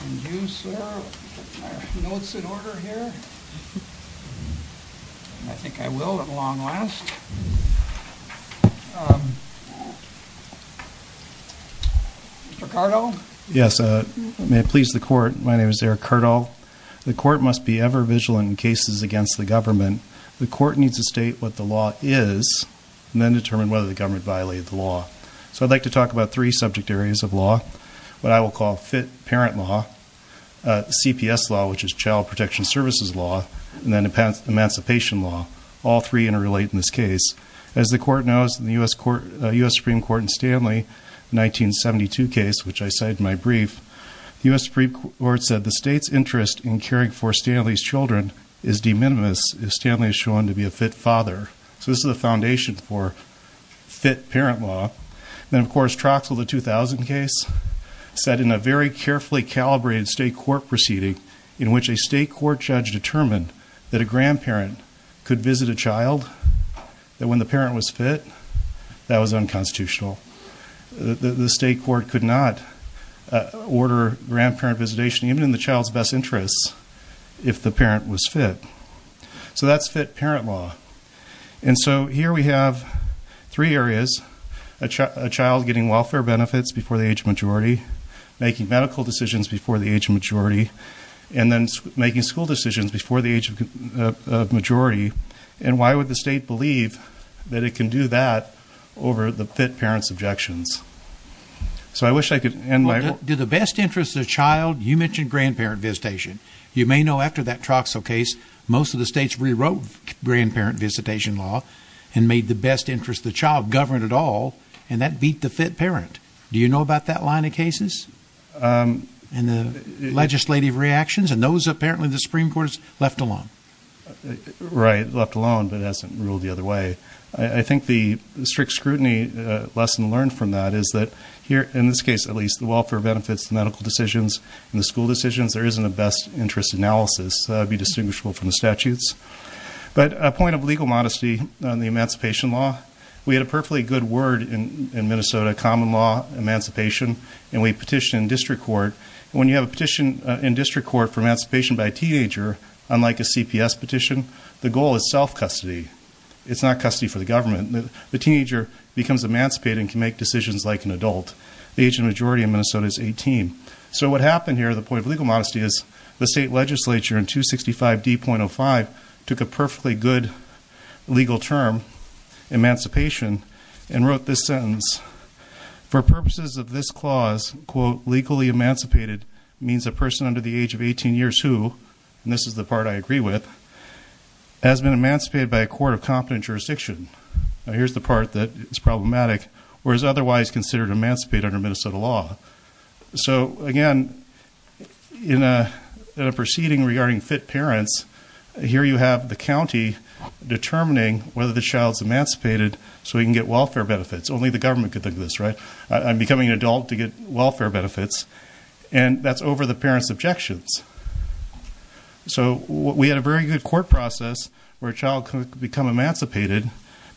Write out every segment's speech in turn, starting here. May I please the court, my name is Eric Cardall. The court must be ever vigilant in cases against the government. The court needs to state what the law is and then determine whether the government violated the law. So I'd like to talk about three subject areas of law. What CPS law, which is child protection services law, and then emancipation law. All three interrelate in this case. As the court knows, in the U.S. Supreme Court in Stanley, 1972 case, which I cited in my brief, the U.S. Supreme Court said the state's interest in caring for Stanley's children is de minimis if Stanley is shown to be a fit father. So this is the foundation for fit court proceeding in which a state court judge determined that a grandparent could visit a child that when the parent was fit, that was unconstitutional. The state court could not order grandparent visitation, even in the child's best interests, if the parent was fit. So that's fit parent law. And so here we have three areas, a child getting welfare benefits before the age of majority, making medical decisions before the age of majority, and then making school decisions before the age of majority. And why would the state believe that it can do that over the fit parent's objections? So I wish I could end my... Do the best interest of the child, you mentioned grandparent visitation. You may know after that Troxel case, most of the states rewrote grandparent visitation law and made the best interest of the child govern at all, and that cases and the legislative reactions and those apparently the Supreme Court has left alone. Right, left alone, but hasn't ruled the other way. I think the strict scrutiny lesson learned from that is that here, in this case at least, the welfare benefits, the medical decisions, and the school decisions, there isn't a best interest analysis, be distinguishable from the statutes. But a point of legal modesty on the emancipation law, we had a perfectly good word in Minnesota, common law, emancipation, and we petitioned district court. When you have a petition in district court for emancipation by a teenager, unlike a CPS petition, the goal is self-custody. It's not custody for the government. The teenager becomes emancipated and can make decisions like an adult. The age of majority in Minnesota is 18. So what happened here, the point of legal modesty is the state legislature in 265D.05 took a perfectly good legal term, emancipation, and wrote this sentence, for purposes of this clause, quote, legally emancipated, means a person under the age of 18 years who, and this is the part I agree with, has been emancipated by a court of competent jurisdiction. Now here's the part that is problematic or is otherwise considered emancipated under Minnesota law. So again, in a proceeding regarding fit so we can get welfare benefits. Only the government could think of this, right? I'm becoming an adult to get welfare benefits and that's over the parent's objections. So we had a very good court process where a child could become emancipated,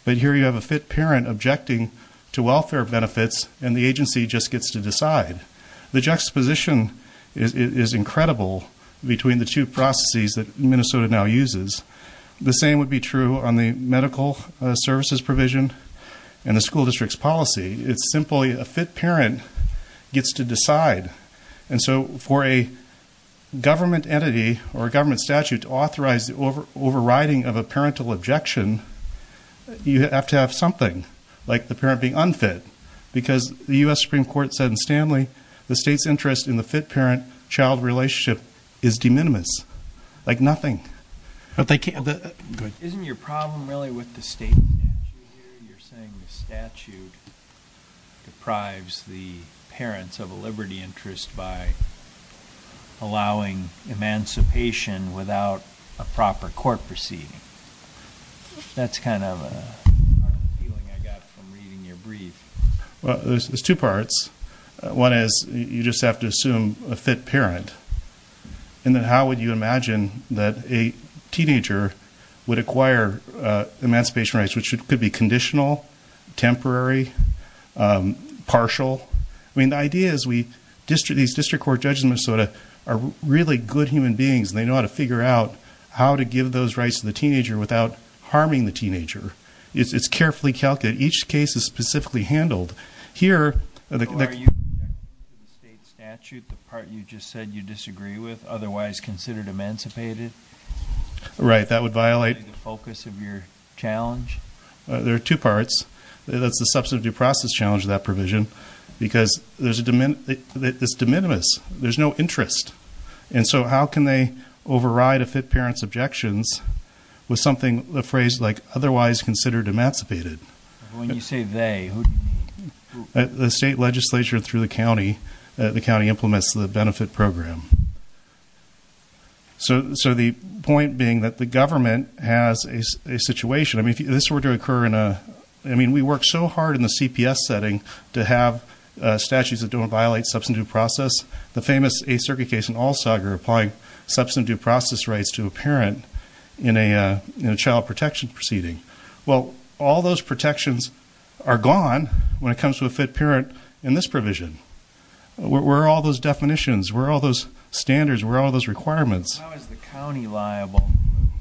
but here you have a fit parent objecting to welfare benefits and the agency just gets to decide. The juxtaposition is incredible between the two processes that Minnesota now uses. The same would be true on the medical services provision and the school district's policy. It's simply a fit parent gets to decide. And so for a government entity or a government statute to authorize the overriding of a parental objection, you have to have something like the parent being unfit because the US Supreme Court said in Stanley, the state's interest in the fit parent-child relationship is de minimis, like nothing. Isn't your problem really with the state statute here? You're saying the statute deprives the parents of a liberty interest by allowing emancipation without a proper court proceeding. That's kind of a feeling I got from reading your brief. Well, there's two parts. One is you just have to assume a fit parent. And then how would you imagine that a teenager would acquire emancipation rights, which could be conditional, temporary, partial. I mean, the idea is these district court judges in Minnesota are really good human beings and they know how to figure out how to give those rights to the teenager without harming the teenager. It's carefully calculated. Each case is specifically handled. So are you rejecting the state statute, the part you just said you disagree with, otherwise considered emancipated? Right. That would violate the focus of your challenge. There are two parts. That's the substantive due process challenge of that provision because it's de minimis. There's no interest. And so how can they override a fit parent's objections with something, a phrase like otherwise considered emancipated? When you say they. The state legislature through the county, the county implements the benefit program. So the point being that the government has a situation. I mean, if this were to occur in a, I mean, we work so hard in the CPS setting to have statutes that don't place a circuit case in Allsager, applying substantive due process rights to a parent in a child protection proceeding. Well, all those protections are gone when it comes to a fit parent in this provision. Where are all those definitions? Where are all those standards? Where are all those requirements? How is the county liable for the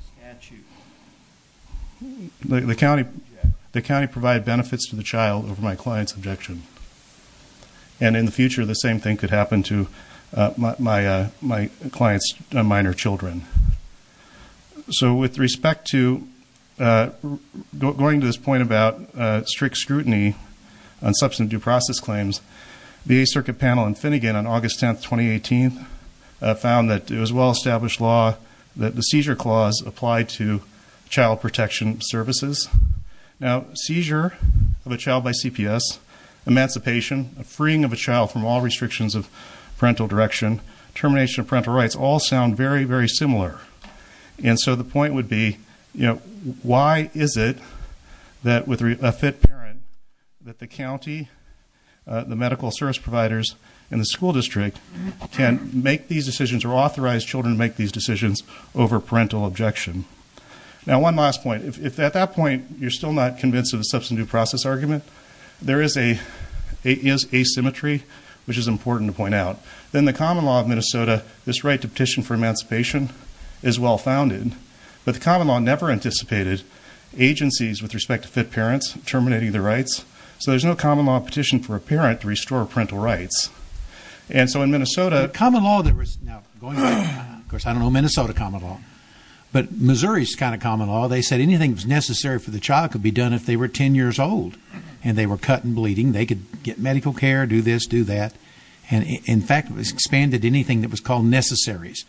statute? The county, the county provide benefits to the child over my client's objection. And in the future, the same thing could happen to my, uh, my client's minor children. So with respect to, uh, going to this point about, uh, strict scrutiny on substantive due process claims, the circuit panel and Finnegan on August 10th, 2018, uh, found that it was well established law that the seizure clause applied to child protection services. Now, seizure of a child by abuse of parental direction, termination of parental rights all sound very, very similar. And so the point would be, you know, why is it that with a fit parent, that the county, uh, the medical service providers and the school district can make these decisions or authorize children to make these decisions over parental objection. Now, one last point, if, if at that point you're still not convinced of the substantive due process argument, there is a, it is asymmetry, which is important to point out. Then the common law of Minnesota, this right to petition for emancipation is well founded, but the common law never anticipated agencies with respect to fit parents terminating their rights. So there's no common law petition for a parent to restore parental rights. And so in Minnesota, common law, there was now going, of course, I don't know, Minnesota common law, but Missouri is kind of common law. They said anything that was necessary for the child could be done if they were 10 years old and they were cut and bleeding, they could get medical care, do this, do that. And in fact, it was expanded anything that was called necessaries.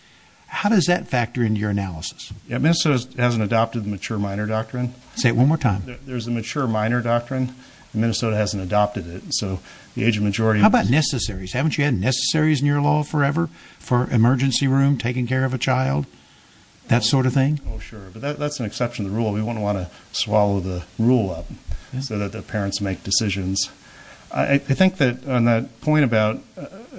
How does that factor into your analysis? Minnesota hasn't adopted the mature minor doctrine. Say it one more time. There's a mature minor doctrine. Minnesota hasn't adopted it. So the age of majority, how about necessaries? Haven't you had necessaries in your law forever for emergency room, taking care of a rule? We wouldn't want to swallow the rule up so that the parents make decisions. I think that on that point about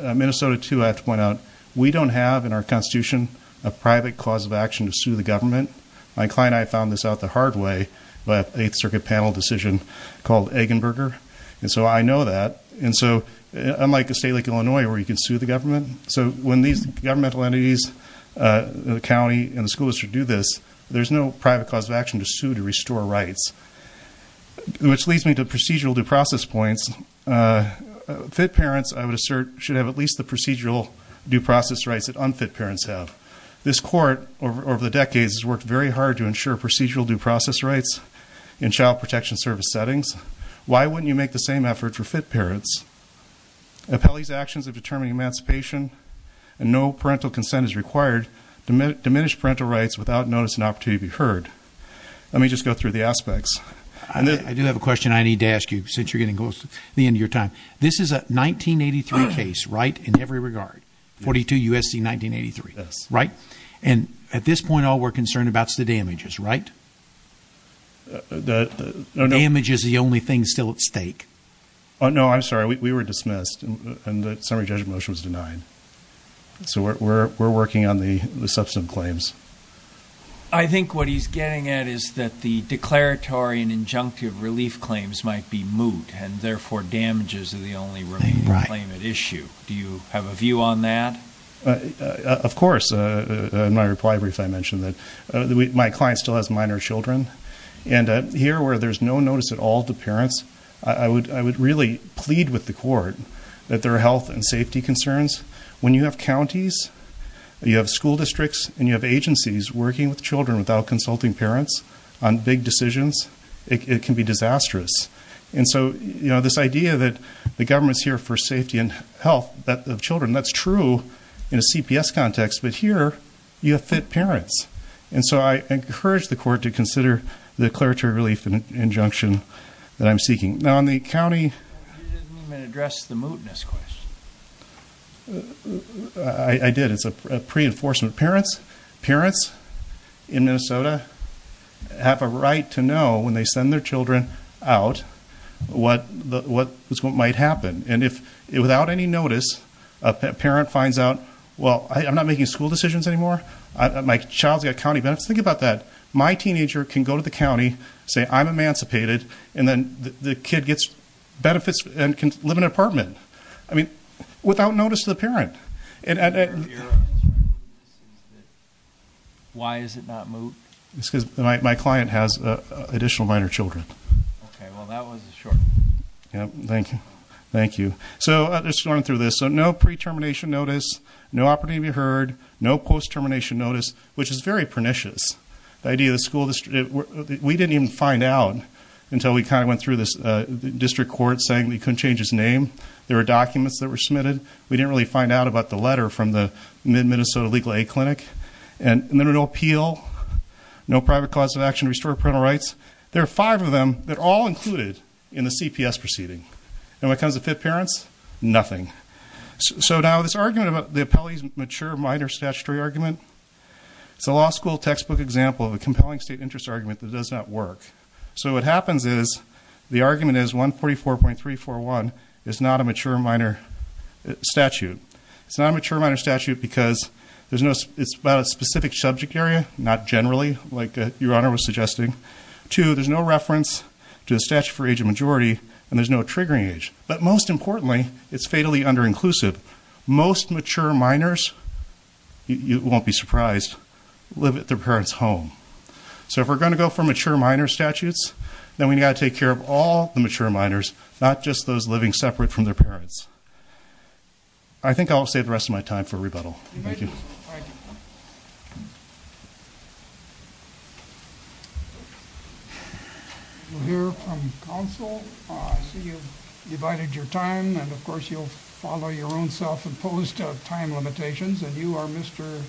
Minnesota too, I have to point out, we don't have in our constitution, a private cause of action to sue the government. My client, I found this out the hard way, but eighth circuit panel decision called Eggenberger. And so I know that. And so unlike a state like Illinois, where you can sue the government. So when these governmental entities, the county and the schools should do this, there's no private cause of action to sue to restore rights, which leads me to procedural due process points. Fit parents, I would assert, should have at least the procedural due process rights that unfit parents have. This court over the decades has worked very hard to ensure procedural due process rights in child protection service settings. Why wouldn't you make the And no parental consent is required to diminish parental rights without notice and opportunity to be heard. Let me just go through the aspects. I do have a question I need to ask you since you're getting close to the end of your time. This is a 1983 case, right? In every regard, 42 USC, 1983, right? And at this point, all we're concerned about is the damages, right? Damage is the only thing still at stake. Oh, no, I'm sorry. We were dismissed and the summary judgment motion was denied. So we're, we're, we're working on the, the substance claims. I think what he's getting at is that the declaratory and injunctive relief claims might be moot and therefore damages are the only remaining claim at issue. Do you have a view on that? Of course. My reply brief, I mentioned that my client still has minor children and here where there's no notice at all to parents, I would, I would really plead with the court that their health and safety concerns when you have counties, you have school districts and you have agencies working with children without consulting parents on big decisions, it can be disastrous. And so, you know, this idea that the government's here for safety and health, that of children, that's true in a CPS context, but here you have fit parents. And so I encourage the court to consider the declaratory relief and injunction that I'm seeking now in the county. You didn't even address the mootness question. I did. It's a pre-enforcement. Parents, parents in Minnesota have a right to know when they send their children out what, what might happen. And if without any notice, a parent finds out, well, I'm not making school decisions anymore. My child's got county benefits. Think about that. My teenager can go to the county, say I'm emancipated, and then the kid gets benefits and can live in an apartment. I mean, without notice to the parent. Why is it not moot? It's because my client has additional minor children. Okay. Well, that was a short answer. Yep. Thank you. Thank you. So, just going through this. So, no pre-termination notice, no opportunity to be heard, no post-termination notice, which is very until we kind of went through this district court saying we couldn't change his name. There were documents that were submitted. We didn't really find out about the letter from the Mid-Minnesota Legal Aid Clinic. And there were no appeal, no private cause of action to restore parental rights. There are five of them that are all included in the CPS proceeding. And when it comes to fit parents, nothing. So, now this argument about the appellee's mature minor statutory argument, it's a law school textbook example of a compelling state interest argument that does not work. So, what happens is, the argument is 144.341 is not a mature minor statute. It's not a mature minor statute because it's about a specific subject area, not generally, like Your Honor was suggesting. Two, there's no reference to the statute for age of majority, and there's no triggering age. But most importantly, it's fatally under-inclusive. Most mature minors, you won't be surprised, live at their parents' home. So, if we're going to go for mature minor statutes, then we've got to take care of all the mature minors, not just those living separate from their parents. I think I'll save the rest of my time for rebuttal. Thank you. Thank you. We'll hear from counsel. I see you've divided your time, and of course, you'll follow your own self-imposed time limitations. And you are Mr.?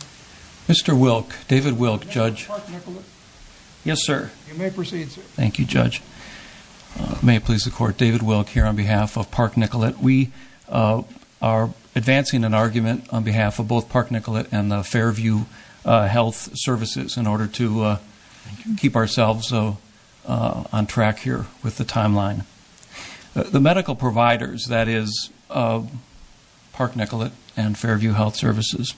Mr. Wilk, David Wilk, Judge. Park Nicolet? You may proceed, sir. Thank you, Judge. May it please the Court, David Wilk here on behalf of Park Nicolet. We are advancing an argument on behalf of both Park Nicolet and the Fairview Health Services in order to keep ourselves on track here with the timeline. The medical providers, that is, Park Nicolet and Fairview Health Services,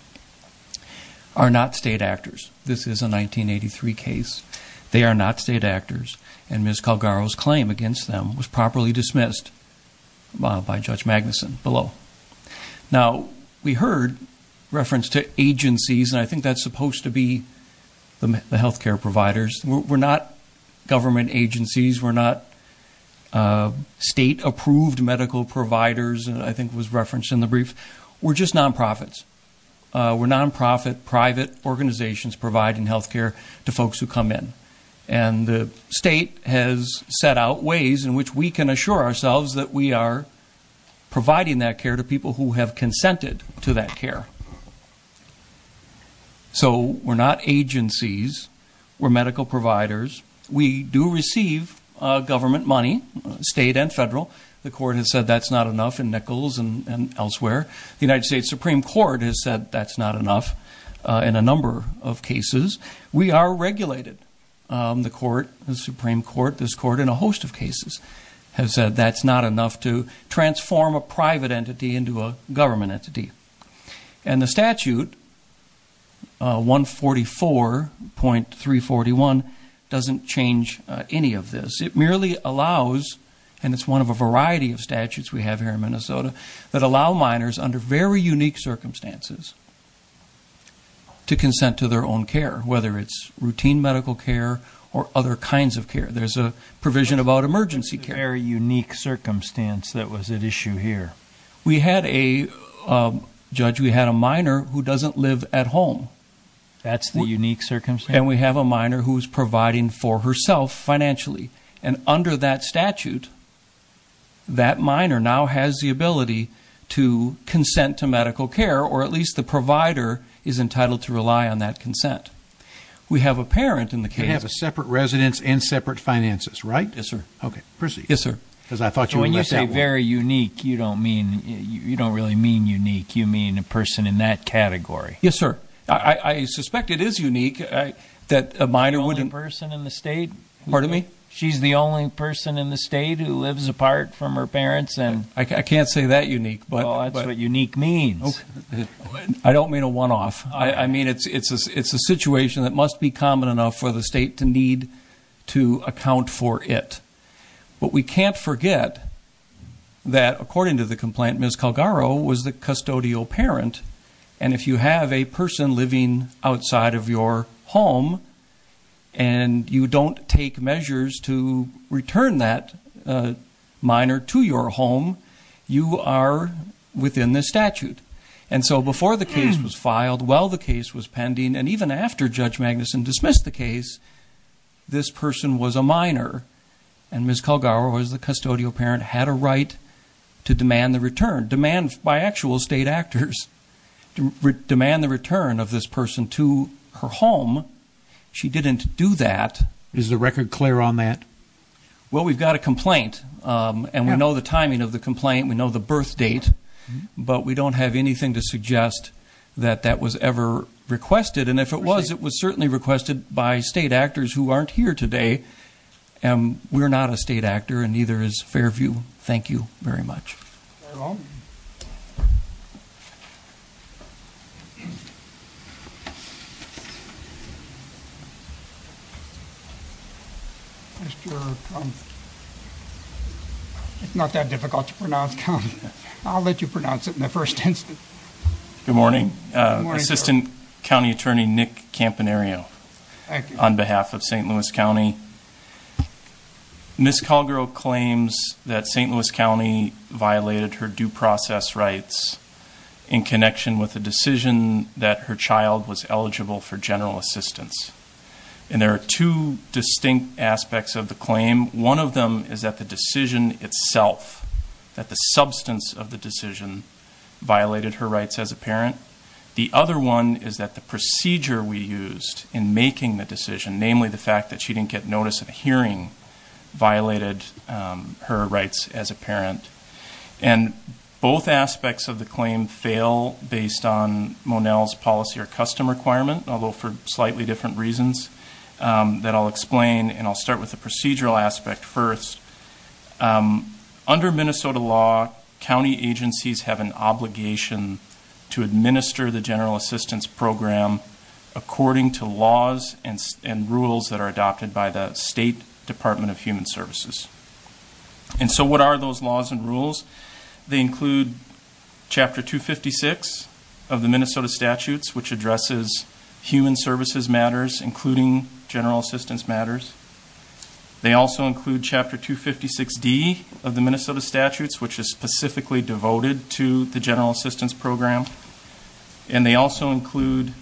are not state actors. This is a 1983 case. They are not state actors, and Ms. Calgaro's claim against them was properly dismissed by Judge Magnuson below. Now, we heard reference to agencies, and I think that's supposed to be the health care providers. We're not government agencies. We're not state-approved medical providers, I think was referenced in the brief. We're just non-profits. We're non-profit, private organizations providing health care to folks who come in. And the state has set out ways in which we can assure ourselves that we are providing that care to people who have consented to that care. So, we're not agencies. We're medical providers. We do receive government money, state and federal. The Court has said that's not enough in Nichols and elsewhere. The United States Supreme Court has said that's not enough in a number of cases. We are regulated. The Supreme Court, this Court, in a host of cases, has said that's not enough to transform a private entity into a government entity. And the statute, 144.341, doesn't change any of this. It merely allows, and it's one of a variety of statutes we have here in Minnesota, that allow minors under very unique circumstances to consent to their own care, whether it's routine medical care or other kinds of care. There's a provision about emergency care. What was the very unique circumstance that was at issue here? We had a, Judge, we had a minor who doesn't live at home. That's the unique circumstance? And we have a minor who's providing for herself financially. And under that statute, that minor now has the ability to consent to medical care, or at least the provider is entitled to rely on that consent. We have a parent in the case. You have a separate residence and separate finances, right? Yes, sir. Okay. Proceed. Yes, sir. When you say very unique, you don't mean, you don't really mean unique. You mean a person in that category. Yes, sir. I suspect it is unique. The only person in the state? Pardon me? She's the only person in the state who lives apart from her parents? I can't say that unique. Well, that's what unique means. I don't mean a one-off. I mean, it's a situation that must be common enough for the state to need to account for it. But we can't forget that, according to the complaint, Ms. Calgaro was the custodial parent. And if you have a person living outside of your home and you don't take measures to return that minor to your home, you are within the statute. And so before the case was filed, while the case was pending, and even after Judge Magnuson dismissed the case, this person was a minor. And Ms. Calgaro was the custodial parent, had a right to demand the return, demand by actual state actors, demand the return of this person to her home. She didn't do that. Is the record clear on that? Well, we've got a complaint. And we know the timing of the complaint. We know the birth date. But we don't have anything to suggest that that was ever requested. And if it was, it was certainly requested by state actors who aren't here today. And we're not a state actor, and neither is Fairview. Thank you very much. Very well. Mr. Calgaro. It's not that difficult to pronounce. I'll let you pronounce it in the first instance. Good morning. Assistant County Attorney Nick Campanario. Thank you. On behalf of St. Louis County. Ms. Calgaro claims that St. Louis County violated her due process rights in connection with the decision that her child was eligible for general assistance. And there are two distinct aspects of the claim. One of them is that the decision itself, that the substance of the decision, violated her rights as a parent. The other one is that the procedure we used in making the decision, namely the fact that she didn't get notice of a hearing, violated her rights as a parent. And both aspects of the claim fail based on Monell's policy or custom requirement, although for slightly different reasons that I'll explain. And I'll start with the procedural aspect first. Under Minnesota law, county agencies have an obligation to administer the general assistance program according to laws and rules that are adopted by the State Department of Human Services. And so what are those laws and rules? They include Chapter 256 of the Minnesota statutes, which addresses human services matters, including general assistance matters. They also include Chapter 256D of the Minnesota statutes, which is specifically devoted to the general assistance program. And they also include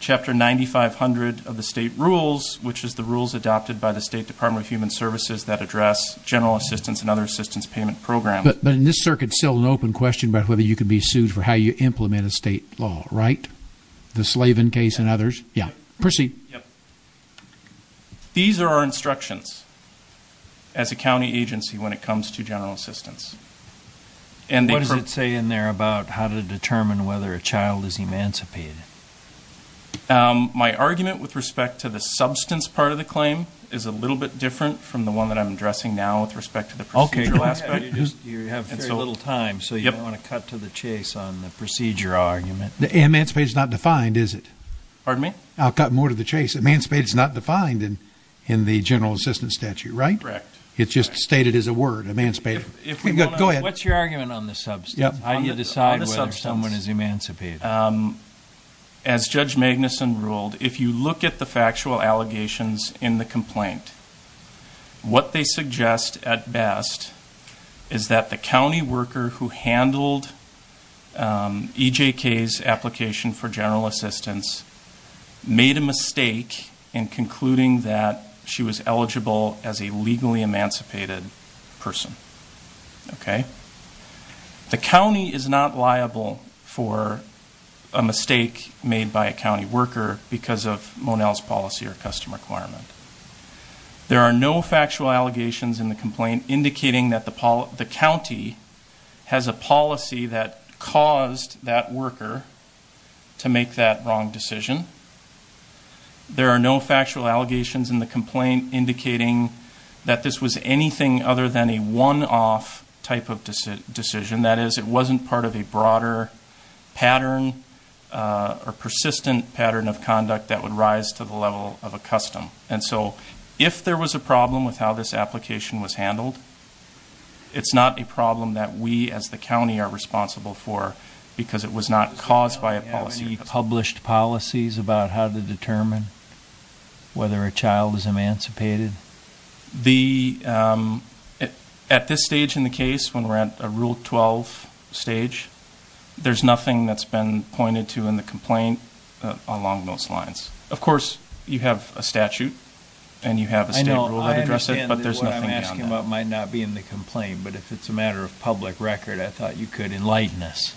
Chapter 9500 of the state rules, which is the rules adopted by the State Department of Human Services that address general assistance and other assistance payment programs. But in this circuit, it's still an open question about whether you can be sued for how you implement a state law, right? The Slavin case and others? Yeah. Proceed. Yep. These are our instructions as a county agency when it comes to general assistance. What does it say in there about how to determine whether a child is emancipated? My argument with respect to the substance part of the claim is a little bit different from the one that I'm addressing now with respect to the procedure. Okay. You have very little time, so you don't want to cut to the chase on the procedure argument. Emancipation is not defined, is it? Pardon me? I'll cut more to the chase. Emancipation is not defined in the general assistance statute, right? Correct. It's just stated as a word, emancipated. Go ahead. What's your argument on the substance? How do you decide whether someone is emancipated? As Judge Magnuson ruled, if you look at the factual allegations in the complaint, what they suggest at best is that the county worker who handled EJK's application for general assistance made a mistake in concluding that she was eligible as a legally emancipated person. Okay? The county is not liable for a mistake made by a county worker because of Monell's policy or custom requirement. There are no factual allegations in the complaint indicating that the county has a policy that caused that worker to make that wrong decision. There are no factual allegations in the complaint indicating that this was anything other than a one-off type of decision. That is, it wasn't part of a broader pattern or persistent pattern of conduct that would rise to the level of a custom. And so if there was a problem with how this application was handled, it's not a problem that we as the county are responsible for because it was not caused by a policy or custom. Are there published policies about how to determine whether a child is emancipated? At this stage in the case, when we're at a Rule 12 stage, there's nothing that's been pointed to in the complaint along those lines. Of course, you have a statute and you have a state rule that addresses it, but there's nothing beyond that. I understand that what I'm asking about might not be in the complaint, but if it's a matter of public record, I thought you could enlighten us.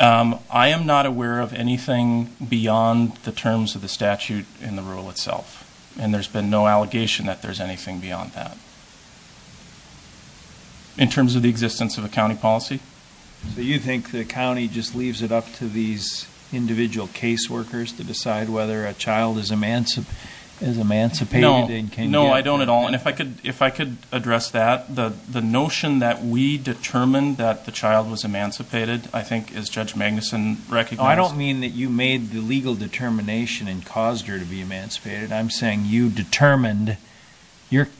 I am not aware of anything beyond the terms of the statute in the rule itself. And there's been no allegation that there's anything beyond that in terms of the existence of a county policy. So you think the county just leaves it up to these individual case workers to decide whether a child is emancipated? No, I don't at all. If I could address that, the notion that we determined that the child was emancipated, I think, as Judge Magnuson recognized- I don't mean that you made the legal determination and caused her to be emancipated. I'm saying you determined.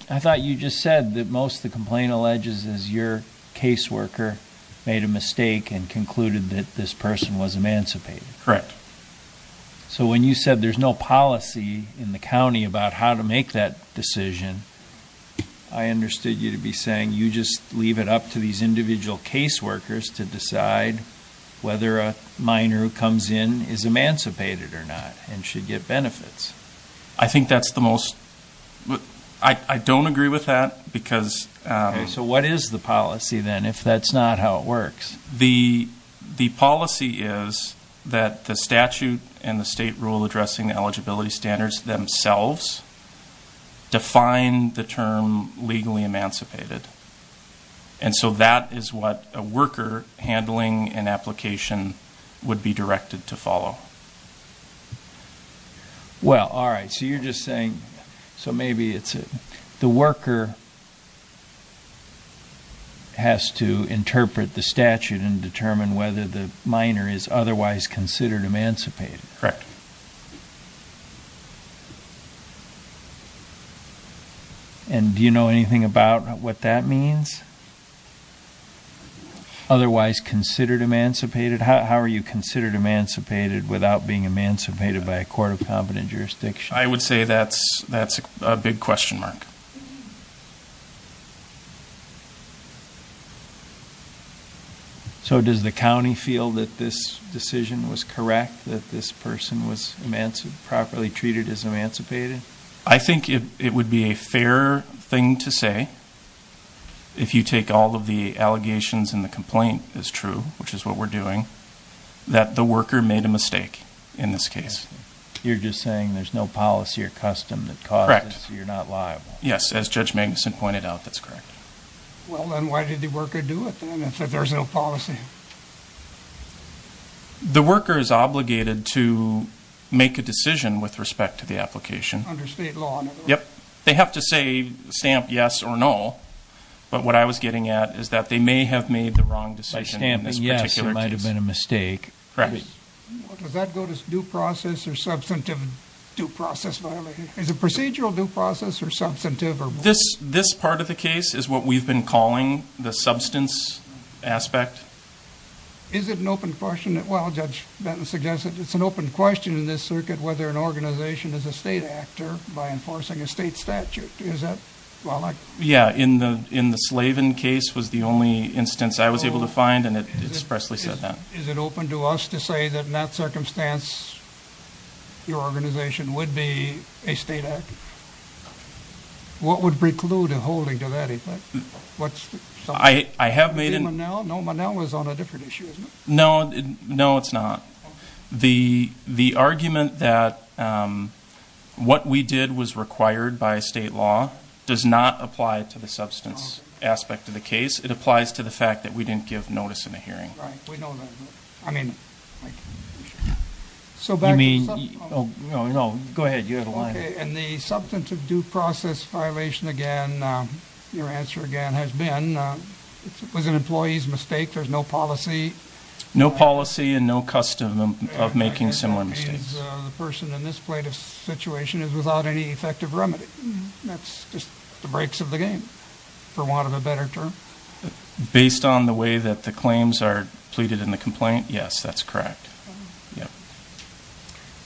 I thought you just said that most of the complaint alleges is your case worker made a mistake and concluded that this person was emancipated. Correct. So when you said there's no policy in the county about how to make that decision, I understood you to be saying you just leave it up to these individual case workers to decide whether a minor who comes in is emancipated or not and should get benefits. I think that's the most- I don't agree with that because- Okay, so what is the policy then, if that's not how it works? The policy is that the statute and the state rule addressing eligibility standards themselves define the term legally emancipated. And so that is what a worker handling an application would be directed to follow. Well, all right. So you're just saying- so maybe it's- the worker has to interpret the statute and determine whether the minor is otherwise considered emancipated. Correct. And do you know anything about what that means? Otherwise considered emancipated? How are you considered emancipated without being emancipated by a court of competent jurisdiction? I would say that's a big question mark. So does the county feel that this decision was correct, that this person was properly treated as emancipated? I think it would be a fair thing to say, if you take all of the allegations and the complaint as true, which is what we're doing, that the worker made a mistake in this case. You're just saying there's no policy or custom that causes you're not liable. Yes, as Judge Magnuson pointed out, that's correct. Well, then why did the worker do it then, if there's no policy? The worker is obligated to make a decision with respect to the application. Under state law. Yep. They have to say, stamp yes or no, but what I was getting at is that they may have made the wrong decision in this particular case. By stamping yes, it might have been a mistake. Correct. Does that go to due process or substantive due process violation? Is it procedural due process or substantive? This part of the case is what we've been calling the substance aspect. Is it an open question? Well, Judge Benton suggested it's an open question in this circuit whether an organization is a state actor by enforcing a state statute. Yeah, in the Slavin case was the only instance I was able to find and it expressly said that. Is it open to us to say that in that circumstance, your organization would be a state actor? What would preclude a holding to that effect? I have made an... No, Manel was on a different issue, isn't he? No, it's not. The argument that what we did was required by state law does not apply to the substance aspect of the case. It applies to the fact that we didn't give notice in a hearing. Right, we know that. I mean, so back to the substance... No, go ahead, you have a line. In the substantive due process violation, again, your answer, again, has been it was an employee's mistake. There's no policy. No policy and no custom of making similar mistakes. The person in this situation is without any effective remedy. That's just the breaks of the game, for want of a better term. Based on the way that the claims are pleaded in the complaint, yes, that's correct.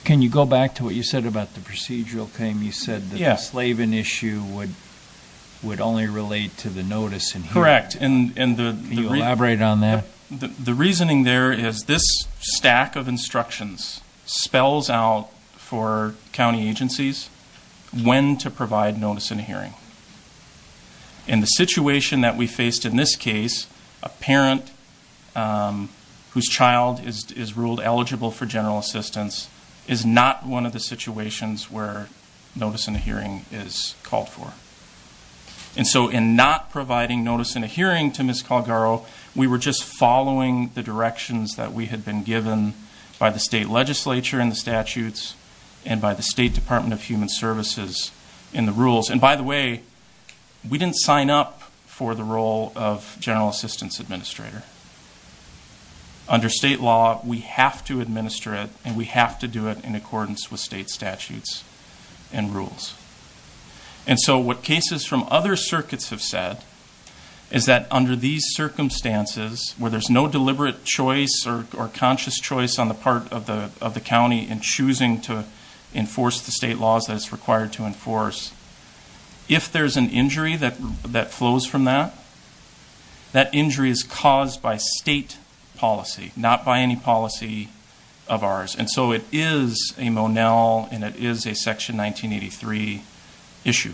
Can you go back to what you said about the procedural claim? You said that the Slaven issue would only relate to the notice in hearing. Correct. Can you elaborate on that? The reasoning there is this stack of instructions spells out for county agencies when to provide notice in a hearing. In the situation that we faced in this case, a parent whose child is ruled eligible for general assistance is not one of the situations where notice in a hearing is called for. And so in not providing notice in a hearing to Ms. Calgaro, we were just following the directions that we had been given by the state legislature in the statutes and by the State Department of Human Services in the rules. And by the way, we didn't sign up for the role of general assistance administrator. Under state law, we have to administer it, and we have to do it in accordance with state statutes and rules. And so what cases from other circuits have said is that under these circumstances, where there's no deliberate choice or conscious choice on the part of the county in choosing to enforce the state laws that it's required to enforce, if there's an injury that flows from that, that injury is caused by state policy, not by any policy of ours. And so it is a Monell, and it is a Section 1983 issue.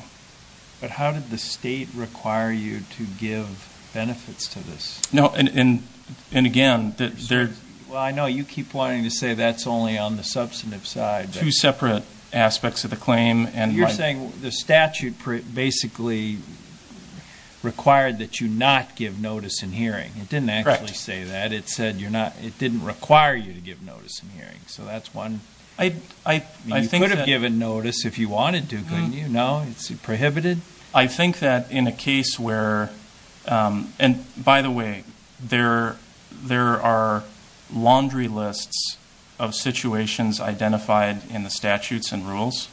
But how did the state require you to give benefits to this? No, and again, there's- Well, I know you keep wanting to say that's only on the substantive side. Two separate aspects of the claim. You're saying the statute basically required that you not give notice in hearing. It didn't actually say that. It said it didn't require you to give notice in hearing, so that's one. You could have given notice if you wanted to, couldn't you? No, it's prohibited. I think that in a case where- and by the way, there are laundry lists of situations identified in the statutes and rules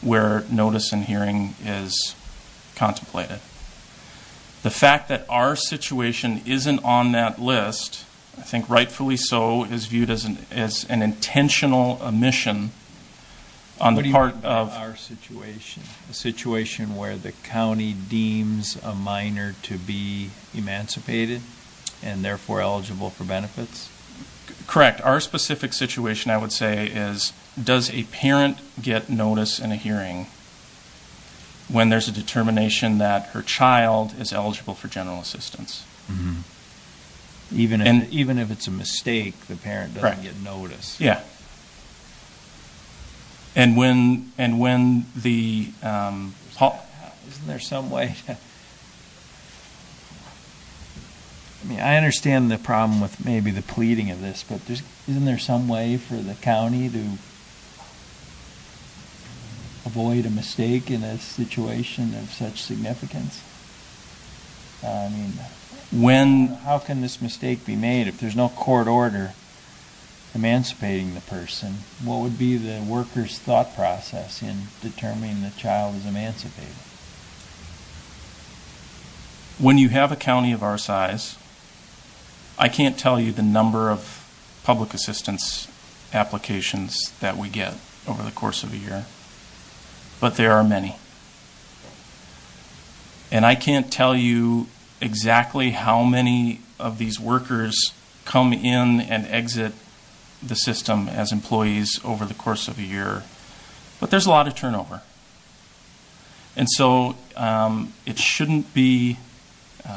where notice in hearing is contemplated. The fact that our situation isn't on that list, I think rightfully so, is viewed as an intentional omission on the part of- Is there a situation where the county deems a minor to be emancipated and therefore eligible for benefits? Correct. Our specific situation, I would say, is does a parent get notice in a hearing when there's a determination that her child is eligible for general assistance? Even if it's a mistake, the parent doesn't get notice. Correct. Yeah. And when the- Isn't there some way to- I mean, I understand the problem with maybe the pleading of this, but isn't there some way for the county to avoid a mistake in a situation of such significance? I mean, when- how can this mistake be made if there's no court order emancipating the person? What would be the worker's thought process in determining the child is emancipated? When you have a county of our size, I can't tell you the number of public assistance applications that we get over the course of a year, but there are many. And I can't tell you exactly how many of these workers come in and exit the system as employees over the course of a year, but there's a lot of turnover. And so it shouldn't be-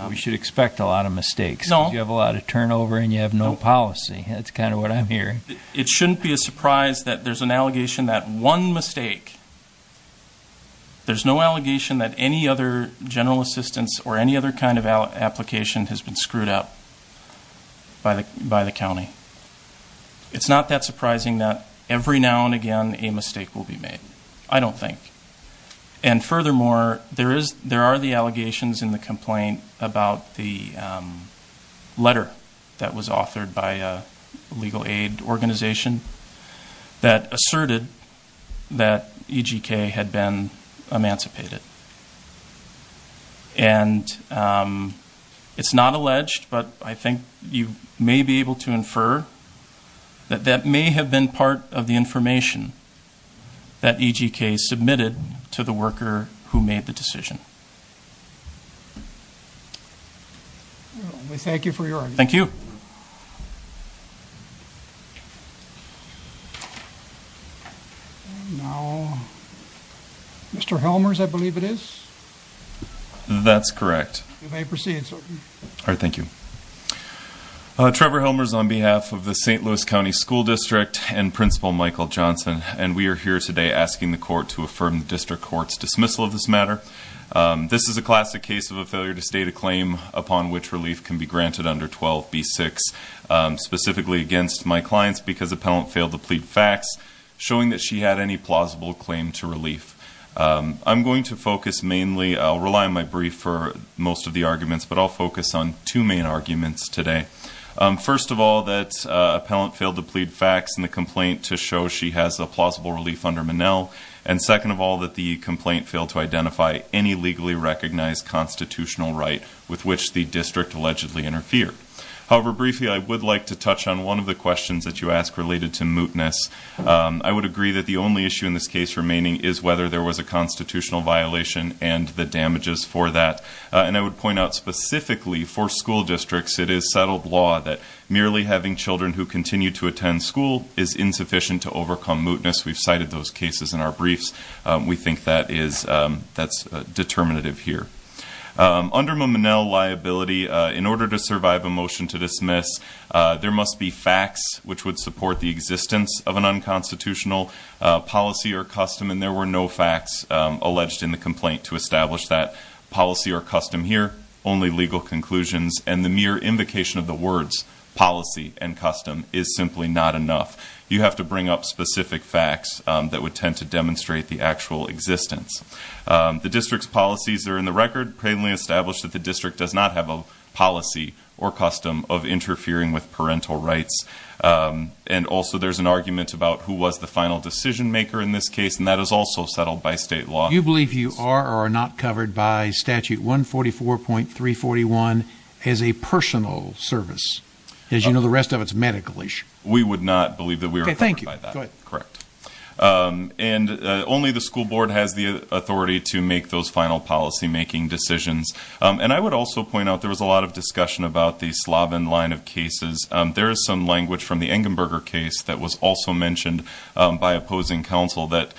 We should expect a lot of mistakes. No. You have a lot of turnover and you have no policy. That's kind of what I'm hearing. It shouldn't be a surprise that there's an allegation that one mistake- There's no allegation that any other general assistance or any other kind of application has been screwed up by the county. It's not that surprising that every now and again a mistake will be made, I don't think. And furthermore, there are the allegations in the complaint about the letter that was authored by a legal aid organization that asserted that EGK had been emancipated. And it's not alleged, but I think you may be able to infer that that may have been part of the information that EGK submitted to the worker who made the decision. We thank you for your argument. Thank you. And now, Mr. Helmers, I believe it is? That's correct. You may proceed, sir. All right, thank you. Trevor Helmers on behalf of the St. Louis County School District and Principal Michael Johnson. And we are here today asking the court to affirm the district court's dismissal of this matter. This is a classic case of a failure to state a claim upon which relief can be granted under 12b-6, specifically against my clients because appellant failed to plead facts, showing that she had any plausible claim to relief. I'm going to focus mainly- I'll rely on my brief for most of the arguments, but I'll focus on two main arguments today. First of all, that appellant failed to plead facts in the complaint to show she has a plausible relief under Minnell. And second of all, that the complaint failed to identify any legally recognized constitutional right with which the district allegedly interfered. However, briefly, I would like to touch on one of the questions that you asked related to mootness. I would agree that the only issue in this case remaining is whether there was a constitutional violation and the damages for that. And I would point out specifically for school districts, it is settled law that merely having children who continue to attend school is insufficient to overcome mootness. We've cited those cases in our briefs. We think that is- that's determinative here. Under Minnell liability, in order to survive a motion to dismiss, there must be facts which would support the existence of an unconstitutional policy or custom. And there were no facts alleged in the complaint to establish that policy or custom here, only legal conclusions. And the mere invocation of the words policy and custom is simply not enough. You have to bring up specific facts that would tend to demonstrate the actual existence. The district's policies are in the record, plainly established that the district does not have a policy or custom of interfering with parental rights. And also there's an argument about who was the final decision maker in this case, and that is also settled by state law. Do you believe you are or are not covered by statute 144.341 as a personal service? As you know, the rest of it's medical issue. We would not believe that we were covered by that. Okay, thank you. Go ahead. Correct. And only the school board has the authority to make those final policymaking decisions. And I would also point out there was a lot of discussion about the Slavin line of cases. There is some language from the Engenberger case that was also mentioned by opposing counsel that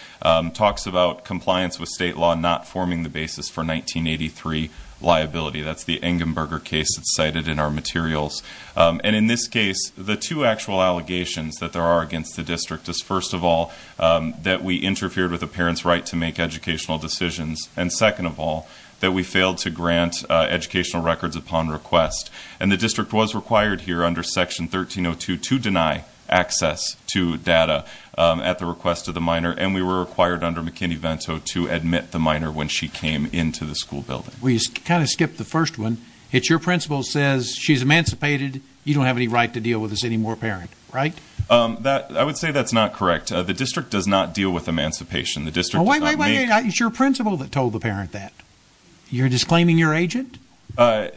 talks about compliance with state law not forming the basis for 1983 liability. That's the Engenberger case that's cited in our materials. And in this case, the two actual allegations that there are against the district is, first of all, that we interfered with a parent's right to make educational decisions. And second of all, that we failed to grant educational records upon request. And the district was required here under section 1302 to deny access to data at the request of the minor. And we were required under McKinney-Vento to admit the minor when she came into the school building. We kind of skipped the first one. It's your principal says she's emancipated. You don't have any right to deal with this anymore, parent, right? I would say that's not correct. The district does not deal with emancipation. Wait, wait, wait. It's your principal that told the parent that. You're disclaiming your agent? I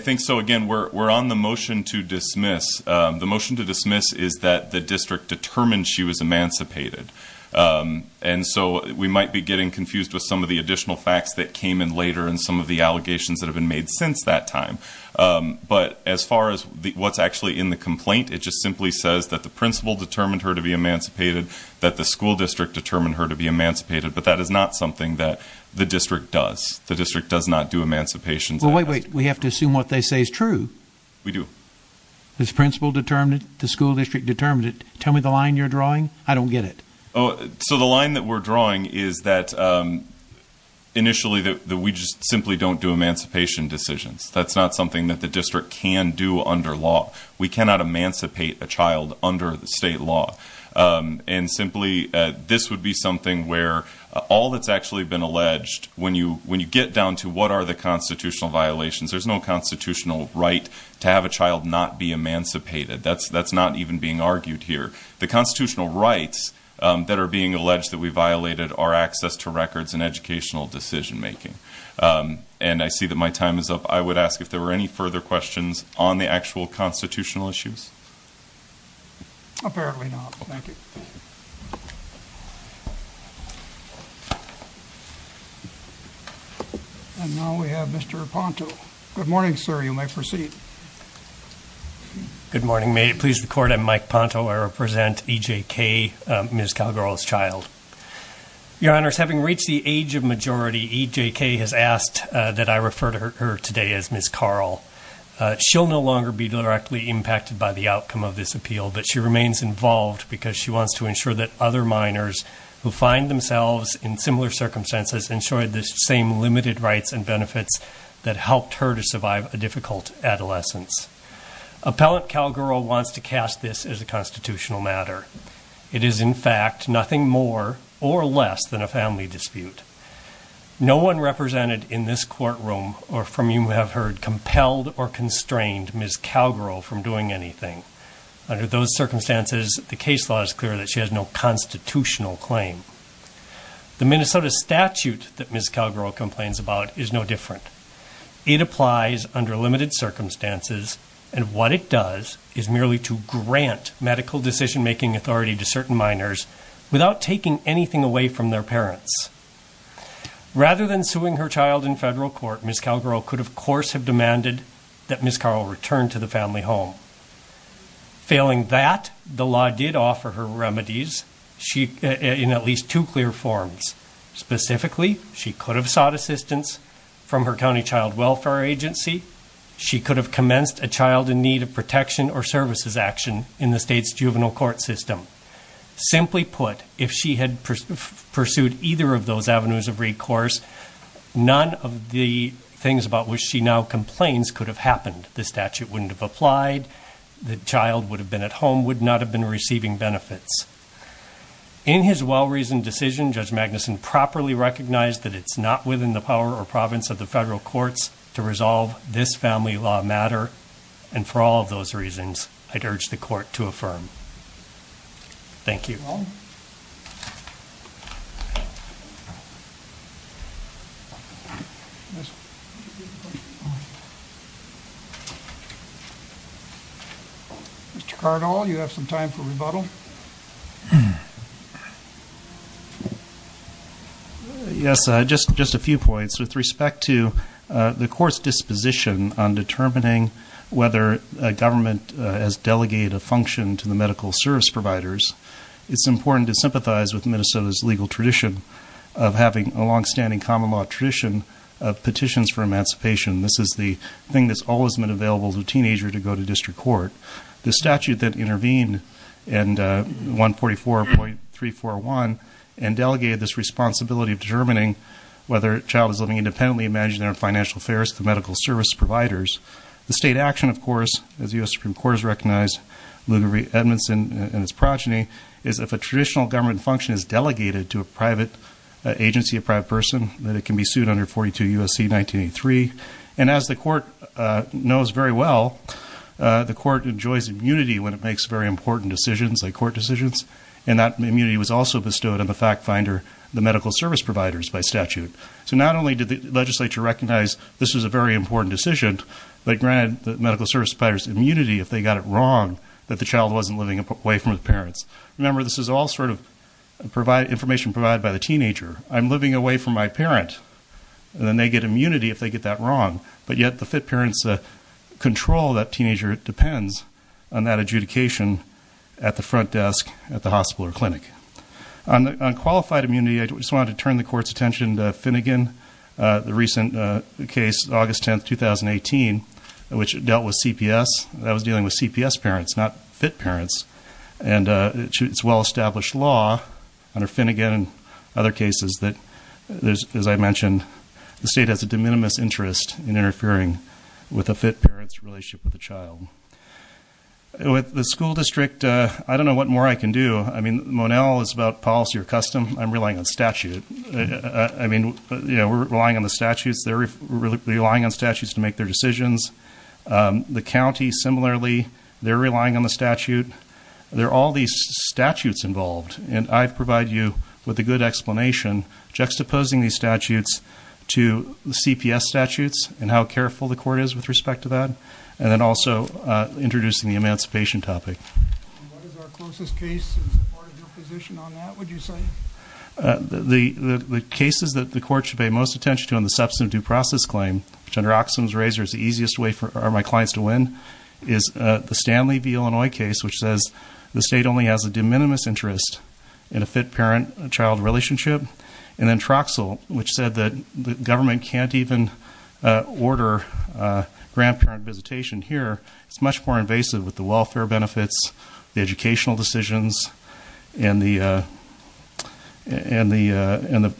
think so. Again, we're on the motion to dismiss. The motion to dismiss is that the district determined she was emancipated. And so we might be getting confused with some of the additional facts that came in later and some of the allegations that have been made since that time. But as far as what's actually in the complaint, it just simply says that the principal determined her to be emancipated, that the school district determined her to be emancipated. But that is not something that the district does. The district does not do emancipation. Wait, wait. We have to assume what they say is true. We do. This principal determined the school district determined it. Tell me the line you're drawing. I don't get it. So the line that we're drawing is that initially that we just simply don't do emancipation decisions. That's not something that the district can do under law. We cannot emancipate a child under the state law. And simply, this would be something where all that's actually been alleged, when you get down to what are the constitutional violations, there's no constitutional right to have a child not be emancipated. That's not even being argued here. The constitutional rights that are being alleged that we violated are access to records and educational decision making. And I see that my time is up. I would ask if there were any further questions on the actual constitutional issues. Apparently not. Thank you. And now we have Mr. Ponto. Good morning, sir. You may proceed. Good morning. May it please the court. I'm Mike Ponto. I represent EJK, Ms. Calgaro's child. Your honors, having reached the age of majority, EJK has asked that I refer to her today as Ms. Carl. She'll no longer be directly impacted by the outcome of this appeal, but she remains involved because she wants to ensure that other minors who find themselves in similar circumstances enjoy the same limited rights and benefits that helped her to survive a difficult adolescence. Appellant Calgaro wants to cast this as a constitutional matter. It is, in fact, nothing more or less than a family dispute. No one represented in this courtroom, or from whom you have heard, compelled or constrained Ms. Calgaro from doing anything. Under those circumstances, the case law is clear that she has no constitutional claim. The Minnesota statute that Ms. Calgaro complains about is no different. It applies under limited circumstances, and what it does is merely to grant medical decision making authority to certain minors without taking anything away from their parents. Rather than suing her child in federal court, Ms. Calgaro could, of course, have demanded that Ms. Carl return to the family home. Failing that, the law did offer her remedies in at least two clear forms. Specifically, she could have sought assistance from her county child welfare agency. She could have commenced a child in need of protection or services action in the state's juvenile court system. Simply put, if she had pursued either of those avenues of recourse, none of the things about which she now complains could have happened. The statute wouldn't have applied, the child would have been at home, would not have been receiving benefits. In his well-reasoned decision, Judge Magnuson properly recognized that it's not within the power or province of the federal courts to resolve this family law matter, and for all of those reasons, I'd urge the court to affirm. Thank you. Mr. Cardall, you have some time for rebuttal. Yes, just a few points. With respect to the court's disposition on determining whether a government has delegated a function to the medical service providers, it's important to sympathize with Minnesota's legal tradition of having a longstanding common law tradition of petitions for emancipation. This is the thing that's always been available to a teenager to go to district court. The statute that intervened in 144.341 and delegated this responsibility of determining whether a child is living independently and managing their own financial affairs to medical service providers. The state action, of course, as the U.S. Supreme Court has recognized, Ludwig Edmondson and his progeny, is if a traditional government function is delegated to a private agency, a private person, that it can be sued under 42 U.S.C. 1983. And as the court knows very well, the court enjoys immunity when it makes very important decisions, like court decisions, and that immunity was also bestowed on the fact finder, the medical service providers, by statute. So not only did the legislature recognize this was a very important decision, they granted the medical service providers immunity if they got it wrong, that the child wasn't living away from the parents. Remember, this is all sort of information provided by the teenager. I'm living away from my parent, and then they get immunity if they get that wrong. But yet the FIT parents control that teenager. It depends on that adjudication at the front desk at the hospital or clinic. On qualified immunity, I just wanted to turn the court's attention to Finnegan, the recent case, August 10, 2018, which dealt with CPS. That was dealing with CPS parents, not FIT parents. And it's well-established law under Finnegan and other cases that, as I mentioned, the state has a de minimis interest in interfering with a FIT parent's relationship with a child. With the school district, I don't know what more I can do. I mean, Monell is about policy or custom. I'm relying on statute. I mean, you know, we're relying on the statutes. They're relying on statutes to make their decisions. The county, similarly, they're relying on the statute. There are all these statutes involved, and I provide you with a good explanation, juxtaposing these statutes to the CPS statutes and how careful the court is with respect to that, and then also introducing the emancipation topic. And what is our closest case? Is it part of your position on that, would you say? The cases that the court should pay most attention to on the substantive due process claim, which under Oxfam's razor is the easiest way for my clients to win, is the Stanley v. Illinois case, which says the state only has a de minimis interest in a FIT parent-child relationship, and then Troxel, which said that the government can't even order grandparent visitation here. It's much more invasive with the welfare benefits, the educational decisions, and the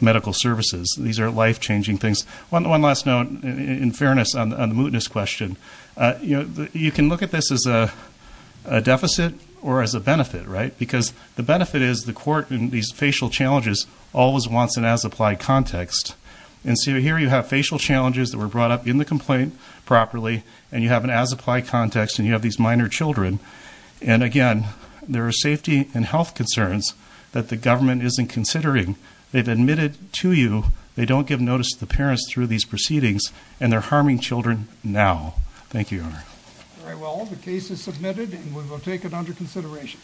medical services. These are life-changing things. One last note, in fairness, on the mootness question. You can look at this as a deficit or as a benefit, right? Because the benefit is the court in these facial challenges always wants an as-applied context. And so here you have facial challenges that were brought up in the complaint properly, and you have an as-applied context, and you have these minor children. And, again, there are safety and health concerns that the government isn't considering. They've admitted to you they don't give notice to the parents through these proceedings, and they're harming children now. Thank you, Your Honor. All right, well, the case is submitted, and we will take it under consideration.